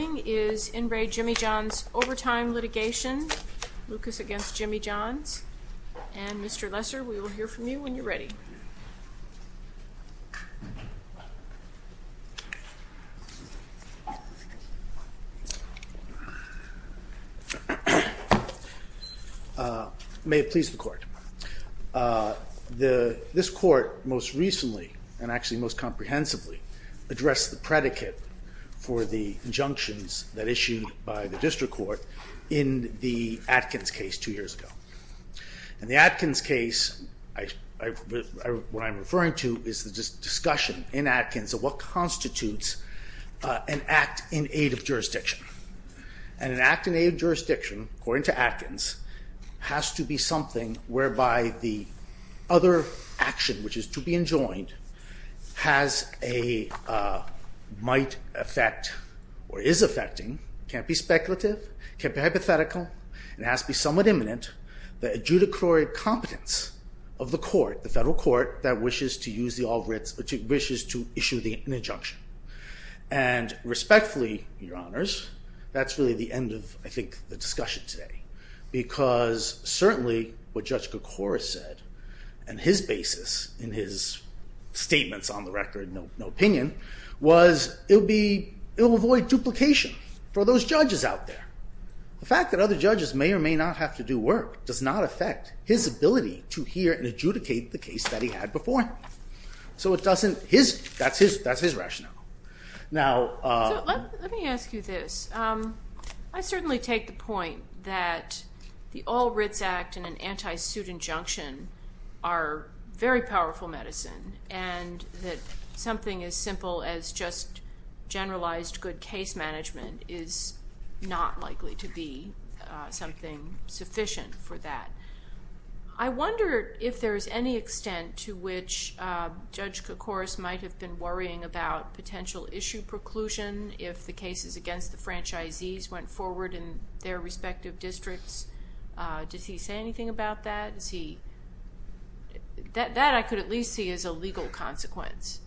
Jimmy John's Overtime Litigation, Lucas v. Jimmy John's, and Mr. Lesser, we will hear from you when you're ready. May it please the Court. This Court, most recently, and actually most comprehensively, addressed the predicate for the injunctions that issued by the District Court in the Atkins case two years ago. In the Atkins case, what I'm referring to is the discussion in Atkins of what constitutes an act in aid of jurisdiction. And an act in aid of jurisdiction, according to Atkins, has to be something whereby the other action, which is to be enjoined, has a, might affect, or is affecting, can't be speculative, can't be hypothetical, and has to be somewhat imminent, the adjudicatory competence of the Court, the Federal Court, that wishes to use the, wishes to issue the injunction. And respectfully, Your Honors, that's really the end of, I think, the discussion today. Because, certainly, what Judge Kocouris said, and his basis in his statements on the record, no opinion, was it'll be, it'll avoid duplication for those judges out there. The fact that other judges may or may not have to do work does not affect his ability to hear and adjudicate the case that he had before him. So it doesn't, his, that's his, that's his rationale. Now. So let me ask you this. I certainly take the point that the All Writs Act and an anti-suit injunction are very powerful medicine. And that something as simple as just generalized good case management is not likely to be something sufficient for that. I wonder if there's any extent to which Judge Kocouris might have been worrying about potential issue preclusion if the cases against the franchisees went forward in their respective districts. Does he say anything about that? Is he, that I could at least see as a legal consequence.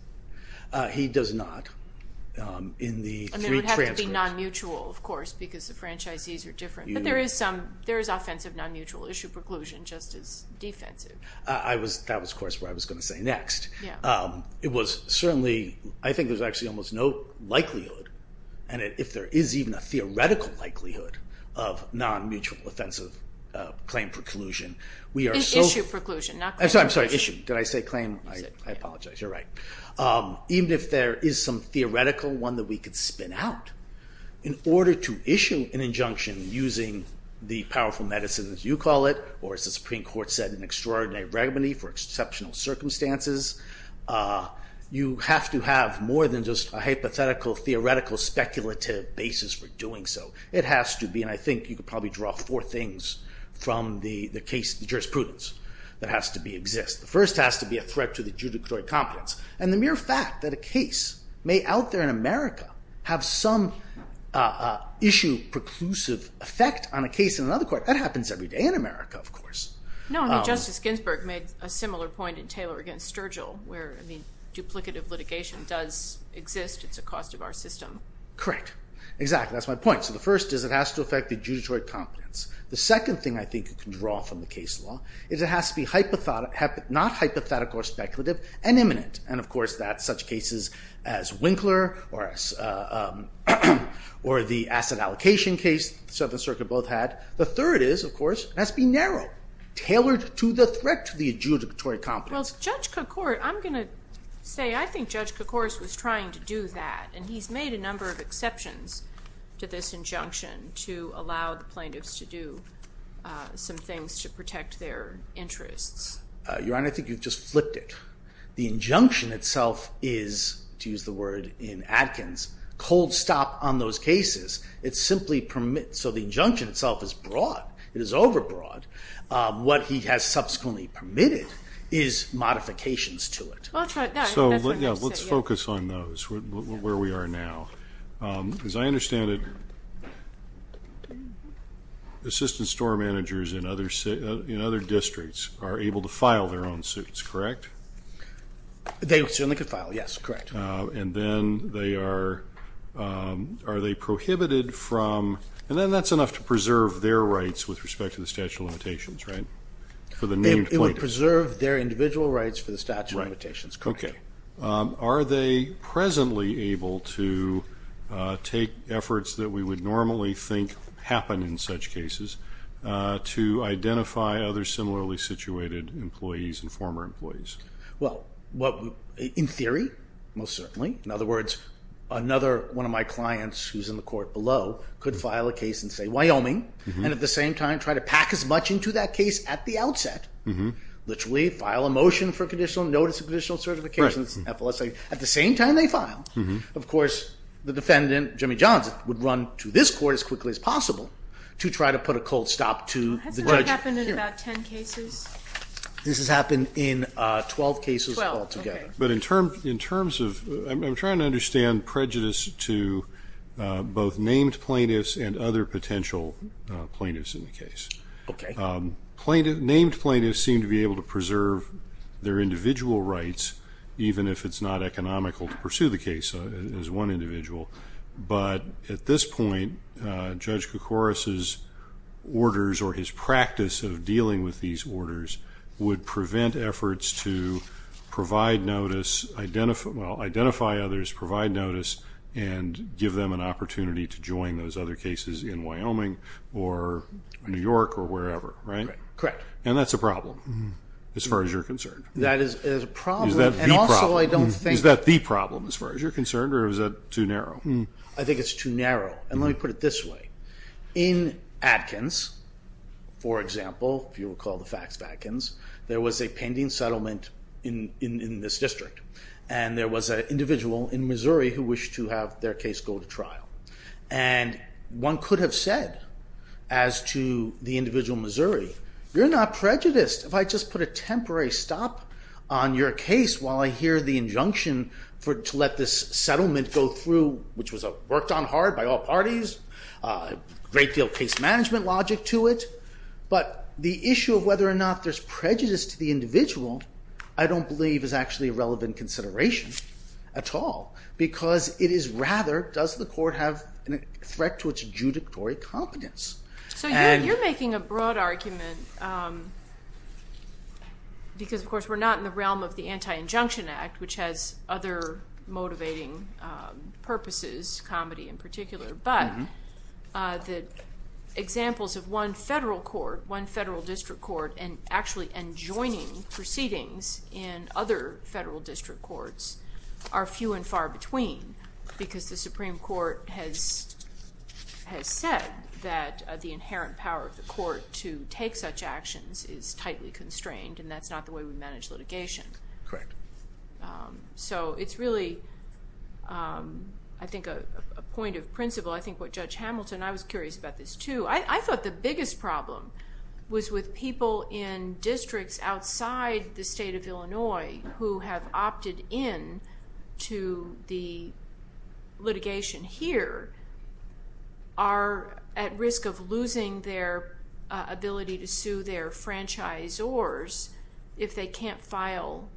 He does not. In the three transcripts. And they would have to be non-mutual, of course, because the franchisees are different. But there is some, there is offensive non-mutual issue preclusion just as defensive. I was, that was, of course, what I was going to say next. It was certainly, I think there's actually almost no likelihood. And if there is even a theoretical likelihood of non-mutual offensive claim preclusion, we are so. Issue preclusion, not claim preclusion. I'm sorry, issue. Did I say claim? I apologize. You're right. Even if there is some theoretical one that we could spin out, in order to issue an injunction using the powerful medicine, as you call it, or as the Supreme Court said, an extraordinary remedy for exceptional circumstances, you have to have more than just a hypothetical, theoretical, speculative basis for doing so. It has to be, and I think you could probably draw four things from the case, the jurisprudence that has to exist. The first has to be a threat to the judicatory competence. And the mere fact that a case may out there in America have some issue preclusive effect on a case in another court, that happens every day in America, of course. No, I mean, Justice Ginsburg made a similar point in Taylor against Sturgill, where, I mean, duplicative litigation does exist. It's a cost of our system. Correct. Exactly. That's my point. So the first is it has to affect the judicatory competence. The second thing I think you can draw from the case law is it has to be not hypothetical or speculative and imminent. And, of course, that's such cases as Winkler or the asset allocation case the Seventh Circuit both had. The third is, of course, it has to be narrow, tailored to the threat to the judicatory competence. Well, Judge Cokort, I'm going to say I think Judge Cokort was trying to do that, and he's made a number of exceptions to this injunction to allow the plaintiffs to do some things to protect their interests. Your Honor, I think you've just flipped it. The injunction itself is, to use the word in Atkins, cold stop on those cases. It simply permits. So the injunction itself is broad. It is overbroad. What he has subsequently permitted is modifications to it. Well, that's right. So let's focus on those, where we are now. As I understand it, assistant store managers in other districts are able to file their own suits, correct? They certainly can file, yes, correct. And then they are, are they prohibited from, and then that's enough to preserve their rights with respect to the statute of limitations, right, for the named plaintiffs? Okay. Are they presently able to take efforts that we would normally think happen in such cases to identify other similarly situated employees and former employees? Well, in theory, most certainly. In other words, another one of my clients who's in the court below could file a case in, say, Wyoming, and at the same time try to pack as much into that case at the outset. Literally file a motion for conditional, notice of conditional certifications, FLSA. At the same time they file, of course, the defendant, Jimmy Johnson, would run to this court as quickly as possible to try to put a cold stop to the judge. Has that happened in about 10 cases? This has happened in 12 cases altogether. But in terms of, I'm trying to understand prejudice to both named plaintiffs and other potential plaintiffs in the case. Okay. Named plaintiffs seem to be able to preserve their individual rights, even if it's not economical to pursue the case as one individual. But at this point, Judge Koukouros' orders or his practice of dealing with these orders would prevent efforts to provide notice, identify others, provide notice, and give them an opportunity to join those other cases in Wyoming or New York or wherever, right? Correct. And that's a problem as far as you're concerned. That is a problem. Is that the problem as far as you're concerned, or is that too narrow? I think it's too narrow. And let me put it this way. In Atkins, for example, if you recall the facts of Atkins, there was a pending settlement in this district. And there was an individual in Missouri who wished to have their case go to trial. And one could have said as to the individual in Missouri, you're not prejudiced if I just put a temporary stop on your case while I hear the injunction to let this settlement go through, which was worked on hard by all parties, a great deal of case management logic to it. But the issue of whether or not there's prejudice to the individual I don't believe is actually a relevant consideration at all because it is rather, does the court have a threat to its judicatory competence? So you're making a broad argument because, of course, we're not in the realm of the Anti-Injunction Act, which has other motivating purposes, comedy in particular, but the examples of one federal court, one federal district court, and actually enjoining proceedings in other federal district courts are few and far between because the Supreme Court has said that the inherent power of the court to take such actions is tightly constrained, and that's not the way we manage litigation. Correct. So it's really, I think, a point of principle. I think what Judge Hamilton, and I was curious about this too, I thought the biggest problem was with people in districts outside the state of Illinois who have opted in to the litigation here are at risk of losing their ability to sue their franchisors if they can't file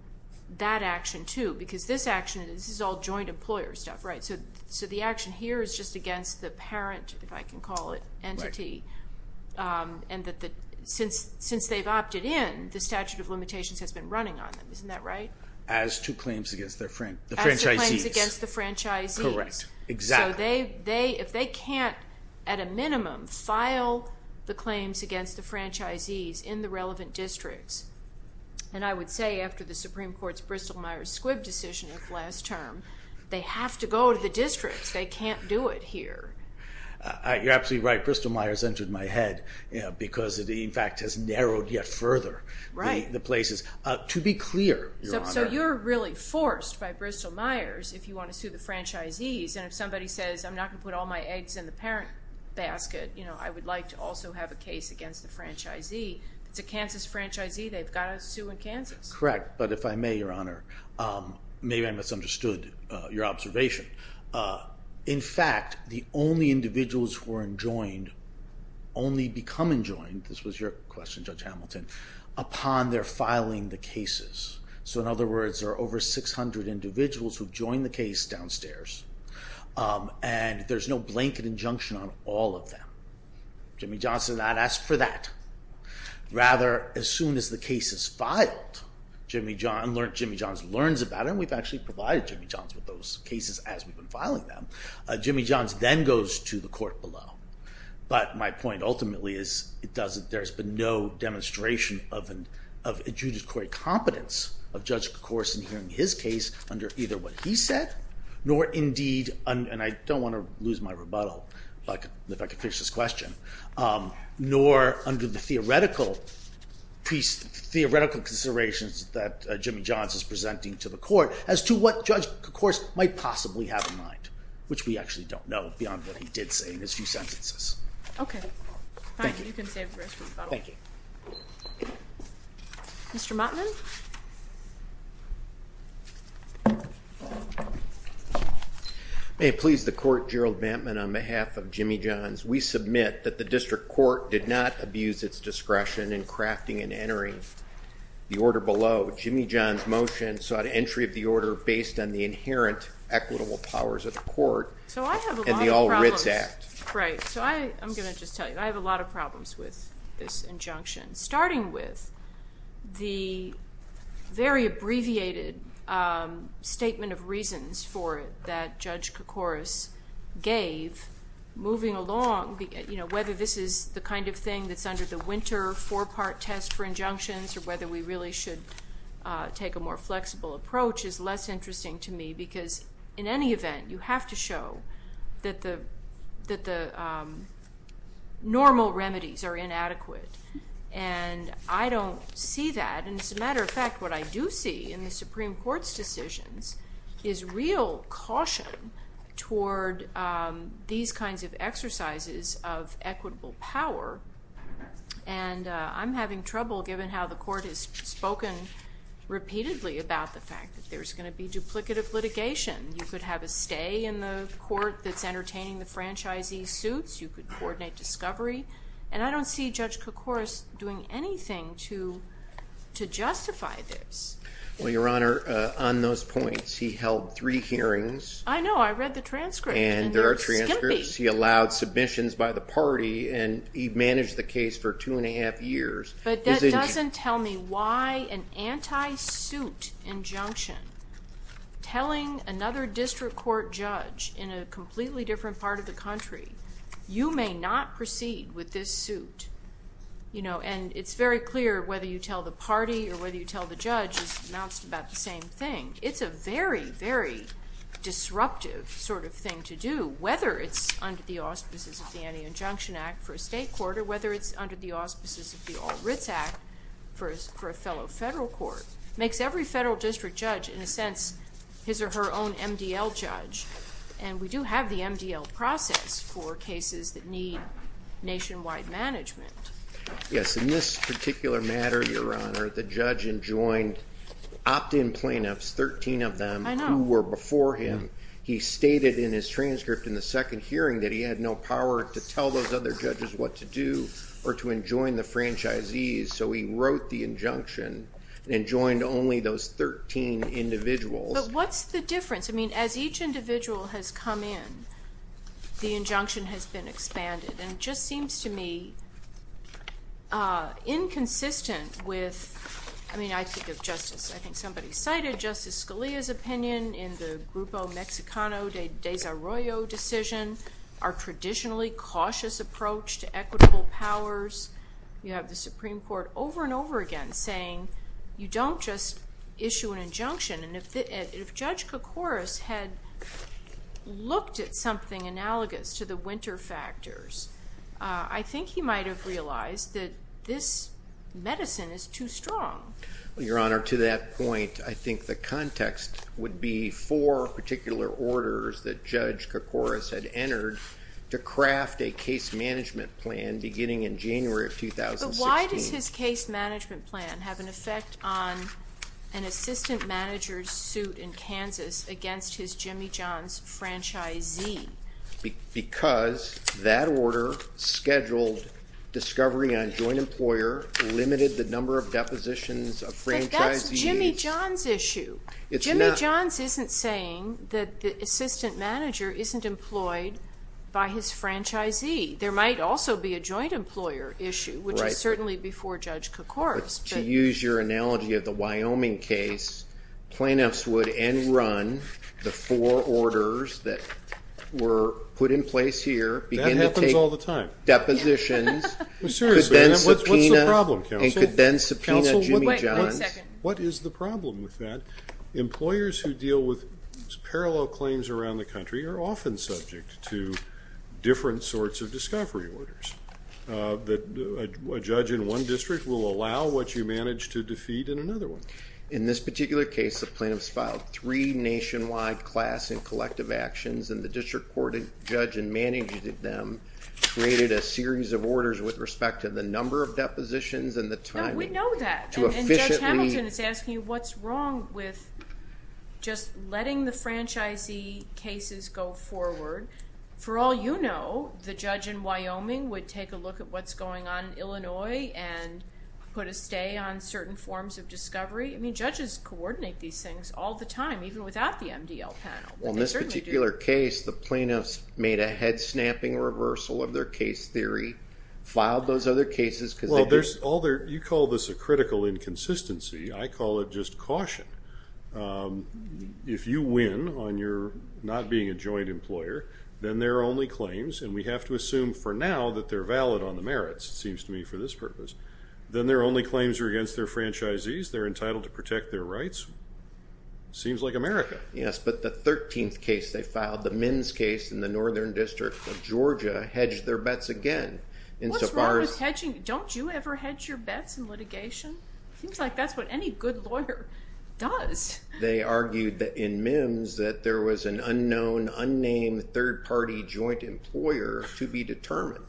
that action too because this action, this is all joint employer stuff, right? So the action here is just against the parent, if I can call it, entity, and since they've opted in, the statute of limitations has been running on them. Isn't that right? As to claims against their franchisees. As to claims against the franchisees. Correct. Exactly. So if they can't, at a minimum, file the claims against the franchisees in the relevant districts, and I would say after the Supreme Court's Bristol-Myers-Squibb decision of last term, they have to go to the districts. They can't do it here. You're absolutely right. Bristol-Myers entered my head because it, in fact, has narrowed yet further the places. Right. To be clear, Your Honor. So you're really forced by Bristol-Myers if you want to sue the franchisees, and if somebody says, I'm not going to put all my eggs in the parent basket. I would like to also have a case against the franchisee. If it's a Kansas franchisee, they've got to sue in Kansas. Correct. But if I may, Your Honor, maybe I misunderstood your observation. In fact, the only individuals who are enjoined, only become enjoined, this was your question, Judge Hamilton, upon their filing the cases. So, in other words, there are over 600 individuals who joined the case downstairs, and there's no blanket injunction on all of them. Jimmy Johnson did not ask for that. Rather, as soon as the case is filed, Jimmy Johns learns about it, and we've actually provided Jimmy Johns with those cases as we've been filing them. Jimmy Johns then goes to the court below. But my point ultimately is there's been no demonstration of adjudicatory competence of Judge Kors in hearing his case under either what he said, nor indeed, and I don't want to lose my rebuttal if I can finish this question, nor under the theoretical considerations that Jimmy Johns is presenting to the court as to what Judge Kors might possibly have in mind, which we actually don't know beyond what he did say in his few sentences. Okay. Fine. You can save the rest of the battle. Thank you. Mr. Motman? May it please the Court, Gerald Bantman, on behalf of Jimmy Johns, we submit that the district court did not abuse its discretion in crafting and entering the order below. Jimmy Johns' motion sought entry of the order based on the inherent equitable powers of the court and the All Writs Act. So I have a lot of problems. Right. So I'm going to just tell you, I have a lot of problems with this injunction, starting with the very abbreviated statement of reasons for it that Judge Kokoris gave moving along, whether this is the kind of thing that's under the winter four-part test for injunctions or whether we really should take a more flexible approach is less interesting to me because in any event, you have to show that the normal remedies are inadequate, and I don't see that, and as a matter of fact, what I do see in the Supreme Court's decisions is real caution toward these kinds of exercises of equitable power, and I'm having trouble given how the court has spoken repeatedly about the fact that there's going to be duplicative litigation. You could have a stay in the court that's entertaining the franchisee suits. You could coordinate discovery, and I don't see Judge Kokoris doing anything to justify this. Well, Your Honor, on those points, he held three hearings. I know. I read the transcript, and it was skimpy. And there are transcripts. He allowed submissions by the party, and he managed the case for two and a half years. But that doesn't tell me why an anti-suit injunction telling another district court judge in a completely different part of the country, you may not proceed with this suit. And it's very clear whether you tell the party or whether you tell the judge is about the same thing. It's a very, very disruptive sort of thing to do, whether it's under the auspices of the Anti-Injunction Act for a state court or whether it's under the auspices of the All Writs Act for a fellow federal court. It makes every federal district judge, in a sense, his or her own MDL judge. And we do have the MDL process for cases that need nationwide management. Yes, in this particular matter, Your Honor, the judge enjoined opt-in plaintiffs, 13 of them who were before him. He stated in his transcript in the second hearing that he had no power to tell those other judges what to do or to enjoin the franchisees. So he wrote the injunction and enjoined only those 13 individuals. But what's the difference? I mean, as each individual has come in, the injunction has been expanded. And it just seems to me inconsistent with, I mean, I think of Justice, I think somebody cited Justice Scalia's opinion in the Grupo Mexicano de Desarrollo decision, our traditionally cautious approach to equitable powers. You have the Supreme Court over and over again saying, you don't just issue an injunction. And if Judge Kokoris had looked at something analogous to the winter factors, I think he might have realized that this medicine is too strong. Well, Your Honor, to that point, I think the context would be four particular orders that Judge Kokoris had entered to craft a case management plan beginning in January of 2016. But why does his case management plan have an effect on an assistant manager's suit in Kansas against his Jimmy John's franchisee? Because that order scheduled discovery on joint employer, limited the number of depositions of franchisees. But that's Jimmy John's issue. Jimmy John's isn't saying that the assistant manager isn't employed by his franchisee. There might also be a joint employer issue, which is certainly before Judge Kokoris. To use your analogy of the Wyoming case, plaintiffs would end run the four orders that were put in place here, begin to take depositions, and could then subpoena Jimmy John's. What is the problem with that? Employers who deal with parallel claims around the country are often subject to different sorts of discovery orders. A judge in one district will allow what you manage to defeat in another one. In this particular case, the plaintiffs filed three nationwide class and collective actions, and the district court judge in managing them created a series of orders with respect to the number of depositions and the timing. We know that, and Judge Hamilton is asking you what's wrong with just letting the franchisee cases go forward. For all you know, the judge in Wyoming would take a look at what's going on in Illinois and put a stay on certain forms of discovery. I mean, judges coordinate these things all the time, even without the MDL panel. In this particular case, the plaintiffs made a head-snapping reversal of their case theory, filed those other cases. Well, you call this a critical inconsistency. I call it just caution. If you win on your not being a joint employer, then there are only claims, and we have to assume for now that they're valid on the merits, it seems to me, for this purpose. Then their only claims are against their franchisees. They're entitled to protect their rights. Seems like America. Yes, but the 13th case they filed, the MNs case in the northern district of Georgia, hedged their bets again. What's wrong with hedging? Don't you ever hedge your bets in litigation? Seems like that's what any good lawyer does. They argued in MNs that there was an unknown, unnamed third-party joint employer to be determined.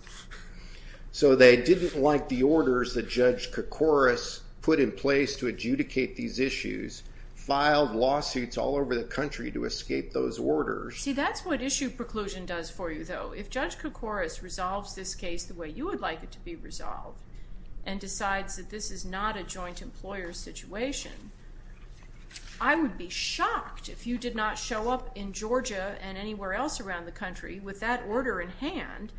So they didn't like the orders that Judge Koukouras put in place to adjudicate these issues, filed lawsuits all over the country to escape those orders. See, that's what issue preclusion does for you, though. If Judge Koukouras resolves this case the way you would like it to be resolved and decides that this is not a joint employer situation, I would be shocked if you did not show up in Georgia and anywhere else around the country with that order in hand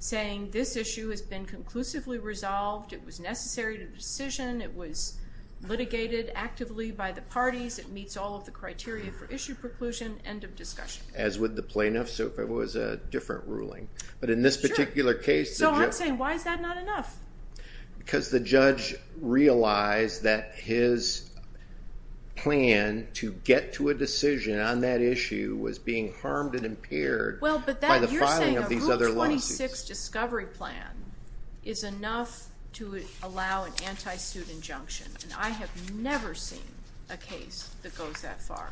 saying this issue has been conclusively resolved, it was necessary to decision, it was litigated actively by the parties, it meets all of the criteria for issue preclusion, end of discussion. As would the plaintiff, so if it was a different ruling. But in this particular case. So I'm saying why is that not enough? Because the judge realized that his plan to get to a decision on that issue was being harmed and impaired by the filing of these other lawsuits. Well, but you're saying a Rule 26 discovery plan is enough to allow an anti-suit injunction, and I have never seen a case that goes that far.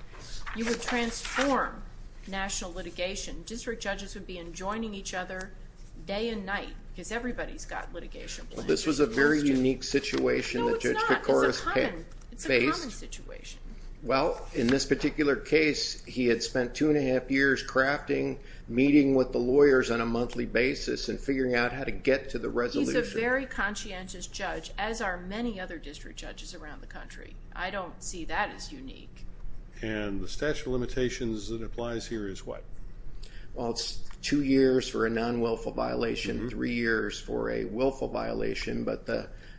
You would transform national litigation. District judges would be enjoining each other day and night because everybody's got litigation plans. This was a very unique situation that Judge Koukouras faced. No, it's not. It's a common situation. Well, in this particular case, he had spent two and a half years crafting, meeting with the lawyers on a monthly basis, and figuring out how to get to the resolution. He's a very conscientious judge, as are many other district judges around the country. I don't see that as unique. And the statute of limitations that applies here is what? Well, it's two years for a non-wilful violation, three years for a willful violation.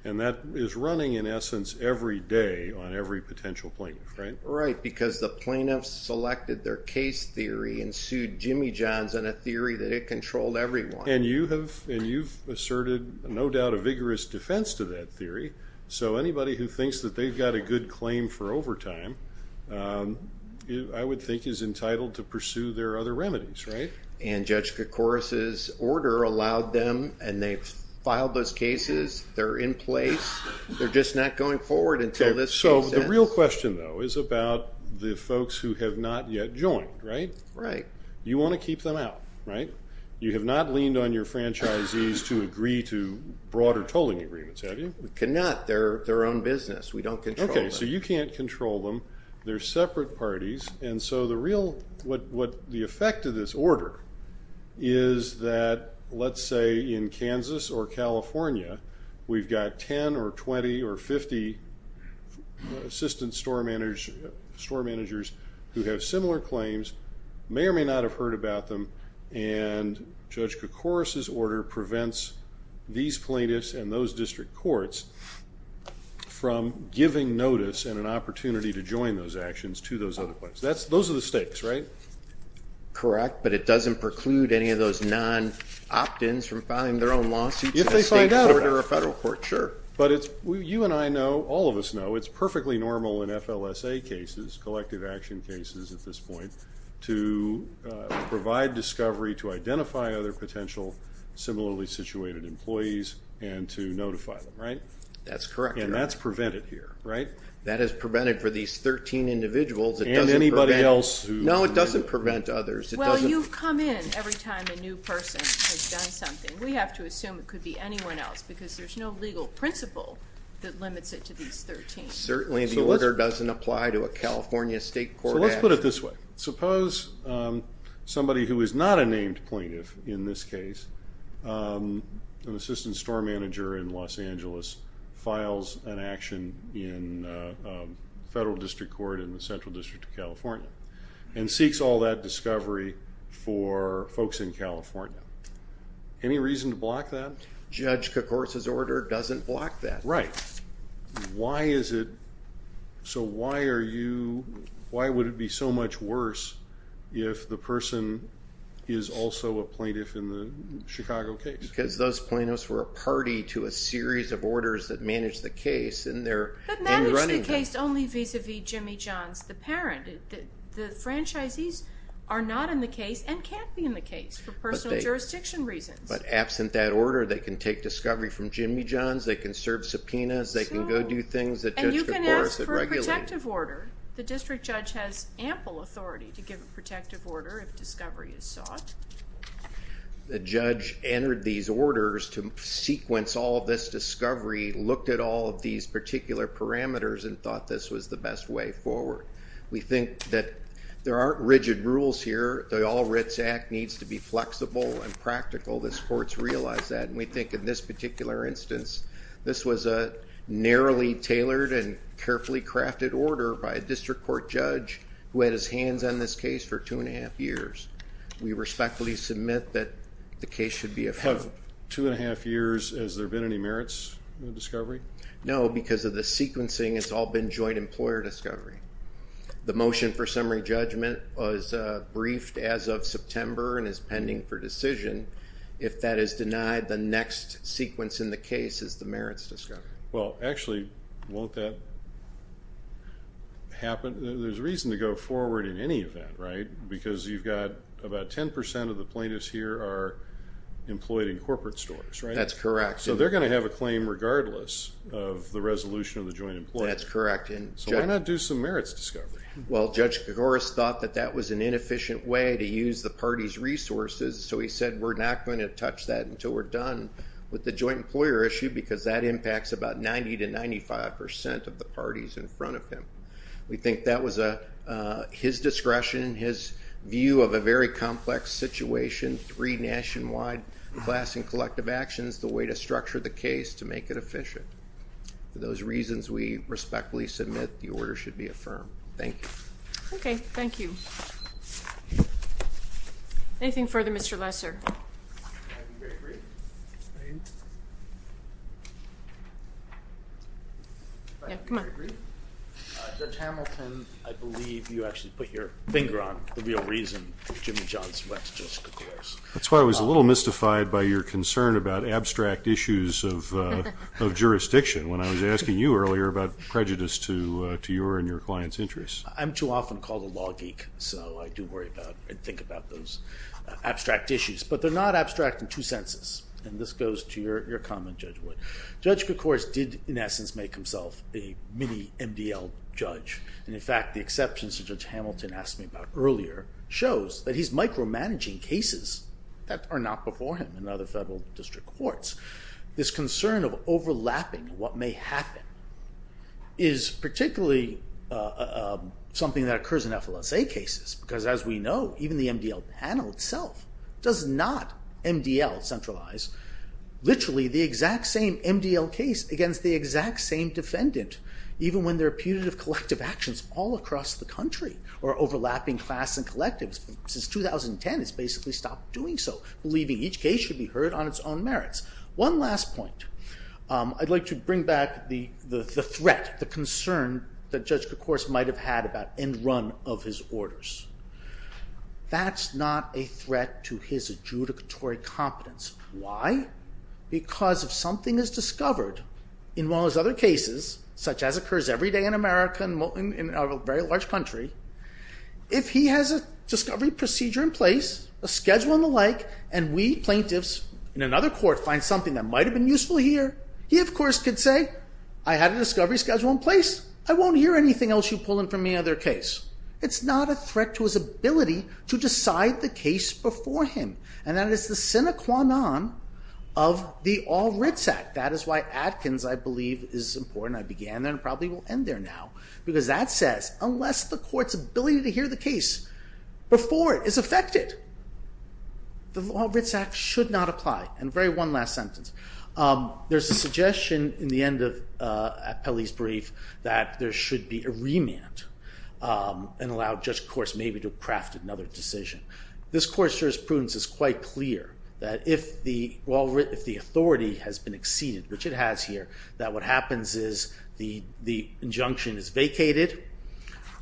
And that is running, in essence, every day on every potential plaintiff, right? Right, because the plaintiffs selected their case theory and sued Jimmy Johns on a theory that it controlled everyone. And you've asserted, no doubt, a vigorous defense to that theory. So anybody who thinks that they've got a good claim for overtime, I would think is entitled to pursue their other remedies, right? And Judge Koukouras' order allowed them, and they've filed those cases. They're in place. They're just not going forward until this process. So the real question, though, is about the folks who have not yet joined, right? Right. You want to keep them out, right? You have not leaned on your franchisees to agree to broader tolling agreements, have you? We cannot. They're their own business. We don't control them. Okay, so you can't control them. They're separate parties. And so the effect of this order is that, let's say, in Kansas or California, we've got 10 or 20 or 50 assistant store managers who have similar claims, may or may not have heard about them, and Judge Koukouras' order prevents these plaintiffs and those district courts from giving notice and an opportunity to join those actions to those other plaintiffs. Those are the stakes, right? Correct. But it doesn't preclude any of those non-opt-ins from filing their own lawsuits at a state court or a federal court, sure. But you and I know, all of us know, it's perfectly normal in FLSA cases, collective action cases at this point, to provide discovery to identify other potential similarly situated employees and to notify them, right? That's correct. And that's prevented here, right? That is prevented for these 13 individuals. And anybody else. No, it doesn't prevent others. Well, you come in every time a new person has done something. We have to assume it could be anyone else because there's no legal principle that limits it to these 13. Certainly the order doesn't apply to a California state court action. So let's put it this way. Suppose somebody who is not a named plaintiff in this case, an assistant store manager in Los Angeles, files an action in a federal district court in the Central District of California and seeks all that discovery for folks in California. Any reason to block that? Judge Koukouras' order doesn't block that. Right. Why is it so why are you why would it be so much worse if the person is also a plaintiff in the Chicago case? Because those plaintiffs were a party to a series of orders that managed the case in their running. But managed the case only vis-à-vis Jimmy Johns, the parent. The franchisees are not in the case and can't be in the case for personal jurisdiction reasons. But absent that order, they can take discovery from Jimmy Johns, they can serve subpoenas, they can go do things that Judge Koukouras had regulated. And you can ask for a protective order. The district judge has ample authority to give a protective order if discovery is sought. The judge entered these orders to sequence all of this discovery, looked at all of these particular parameters, and thought this was the best way forward. We think that there aren't rigid rules here. The All Writs Act needs to be flexible and practical. This court's realized that. And we think in this particular instance, this was a narrowly tailored and carefully crafted order by a district court judge who had his hands on this case for 2 1⁄2 years. We respectfully submit that the case should be approved. Of 2 1⁄2 years, has there been any merits in the discovery? No, because of the sequencing, it's all been joint employer discovery. The motion for summary judgment was briefed as of September and is pending for decision. If that is denied, the next sequence in the case is the merits discovery. Well, actually, won't that happen? There's reason to go forward in any event, right? Because you've got about 10% of the plaintiffs here are employed in corporate stores, right? That's correct. So they're going to have a claim regardless of the resolution of the joint employer. That's correct. So why not do some merits discovery? Well, Judge Koukouras thought that that was an inefficient way to use the party's resources. So he said we're not going to touch that until we're done with the joint employer issue because that impacts about 90% to 95% of the parties in front of him. We think that was his discretion, his view of a very complex situation, three nationwide class and collective actions, the way to structure the case to make it efficient. For those reasons, we respectfully submit the order should be affirmed. Thank you. Okay, thank you. Anything further, Mr. Lesser? If I may be very brief. If I may be very brief. Judge Hamilton, I believe you actually put your finger on the real reason that Jimmy John's Wex just occurs. That's why I was a little mystified by your concern about abstract issues of jurisdiction when I was asking you earlier about prejudice to your and your client's interests. I'm too often called a law geek, so I do worry about and think about those abstract issues. But they're not abstract in two senses, and this goes to your comment, Judge Wood. Judge Koukouras did, in essence, make himself a mini-MDL judge. And, in fact, the exceptions that Judge Hamilton asked me about earlier shows that he's micromanaging cases that are not before him in other federal district courts. This concern of overlapping what may happen is particularly something that occurs in FLSA cases. Because, as we know, even the MDL panel itself does not MDL-centralize literally the exact same MDL case against the exact same defendant, even when they're putative collective actions all across the country or overlapping class and collectives. Since 2010, it's basically stopped doing so, believing each case should be heard on its own merits. One last point. I'd like to bring back the threat, the concern that Judge Koukouras might have had about end-run of his orders. That's not a threat to his adjudicatory competence. Why? Because if something is discovered in one of his other cases, such as occurs every day in America and a very large country, if he has a discovery procedure in place, a schedule and the like, and we plaintiffs in another court find something that might have been useful here, he, of course, could say, I had a discovery schedule in place. I won't hear anything else you pull in from any other case. It's not a threat to his ability to decide the case before him. And that is the sine qua non of the All Writs Act. That is why Atkins, I believe, is important. I began there and probably will end there now. Because that says, unless the court's ability to hear the case before it is affected, the All Writs Act should not apply. And very one last sentence. There's a suggestion in the end of Pelley's brief that there should be a remand and allow Judge Koukouras maybe to craft another decision. This court's jurisprudence is quite clear that if the authority has been exceeded, which it has here, that what happens is the injunction is vacated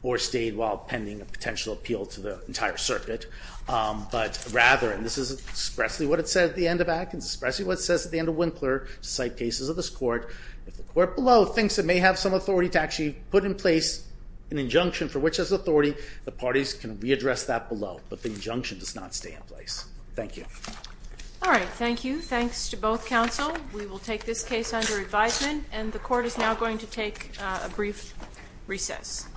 or stayed while pending a potential appeal to the entire circuit. But rather, and this is expressly what it said at the end of Atkins, expressly what it says at the end of Winkler, to cite cases of this court, if the court below thinks it may have some authority to actually put in place an injunction for which as authority, the parties can readdress that below. But the injunction does not stay in place. Thank you. All right. Thank you. Thanks to both counsel. We will take this case under advisement. And the court is now going to take a brief recess.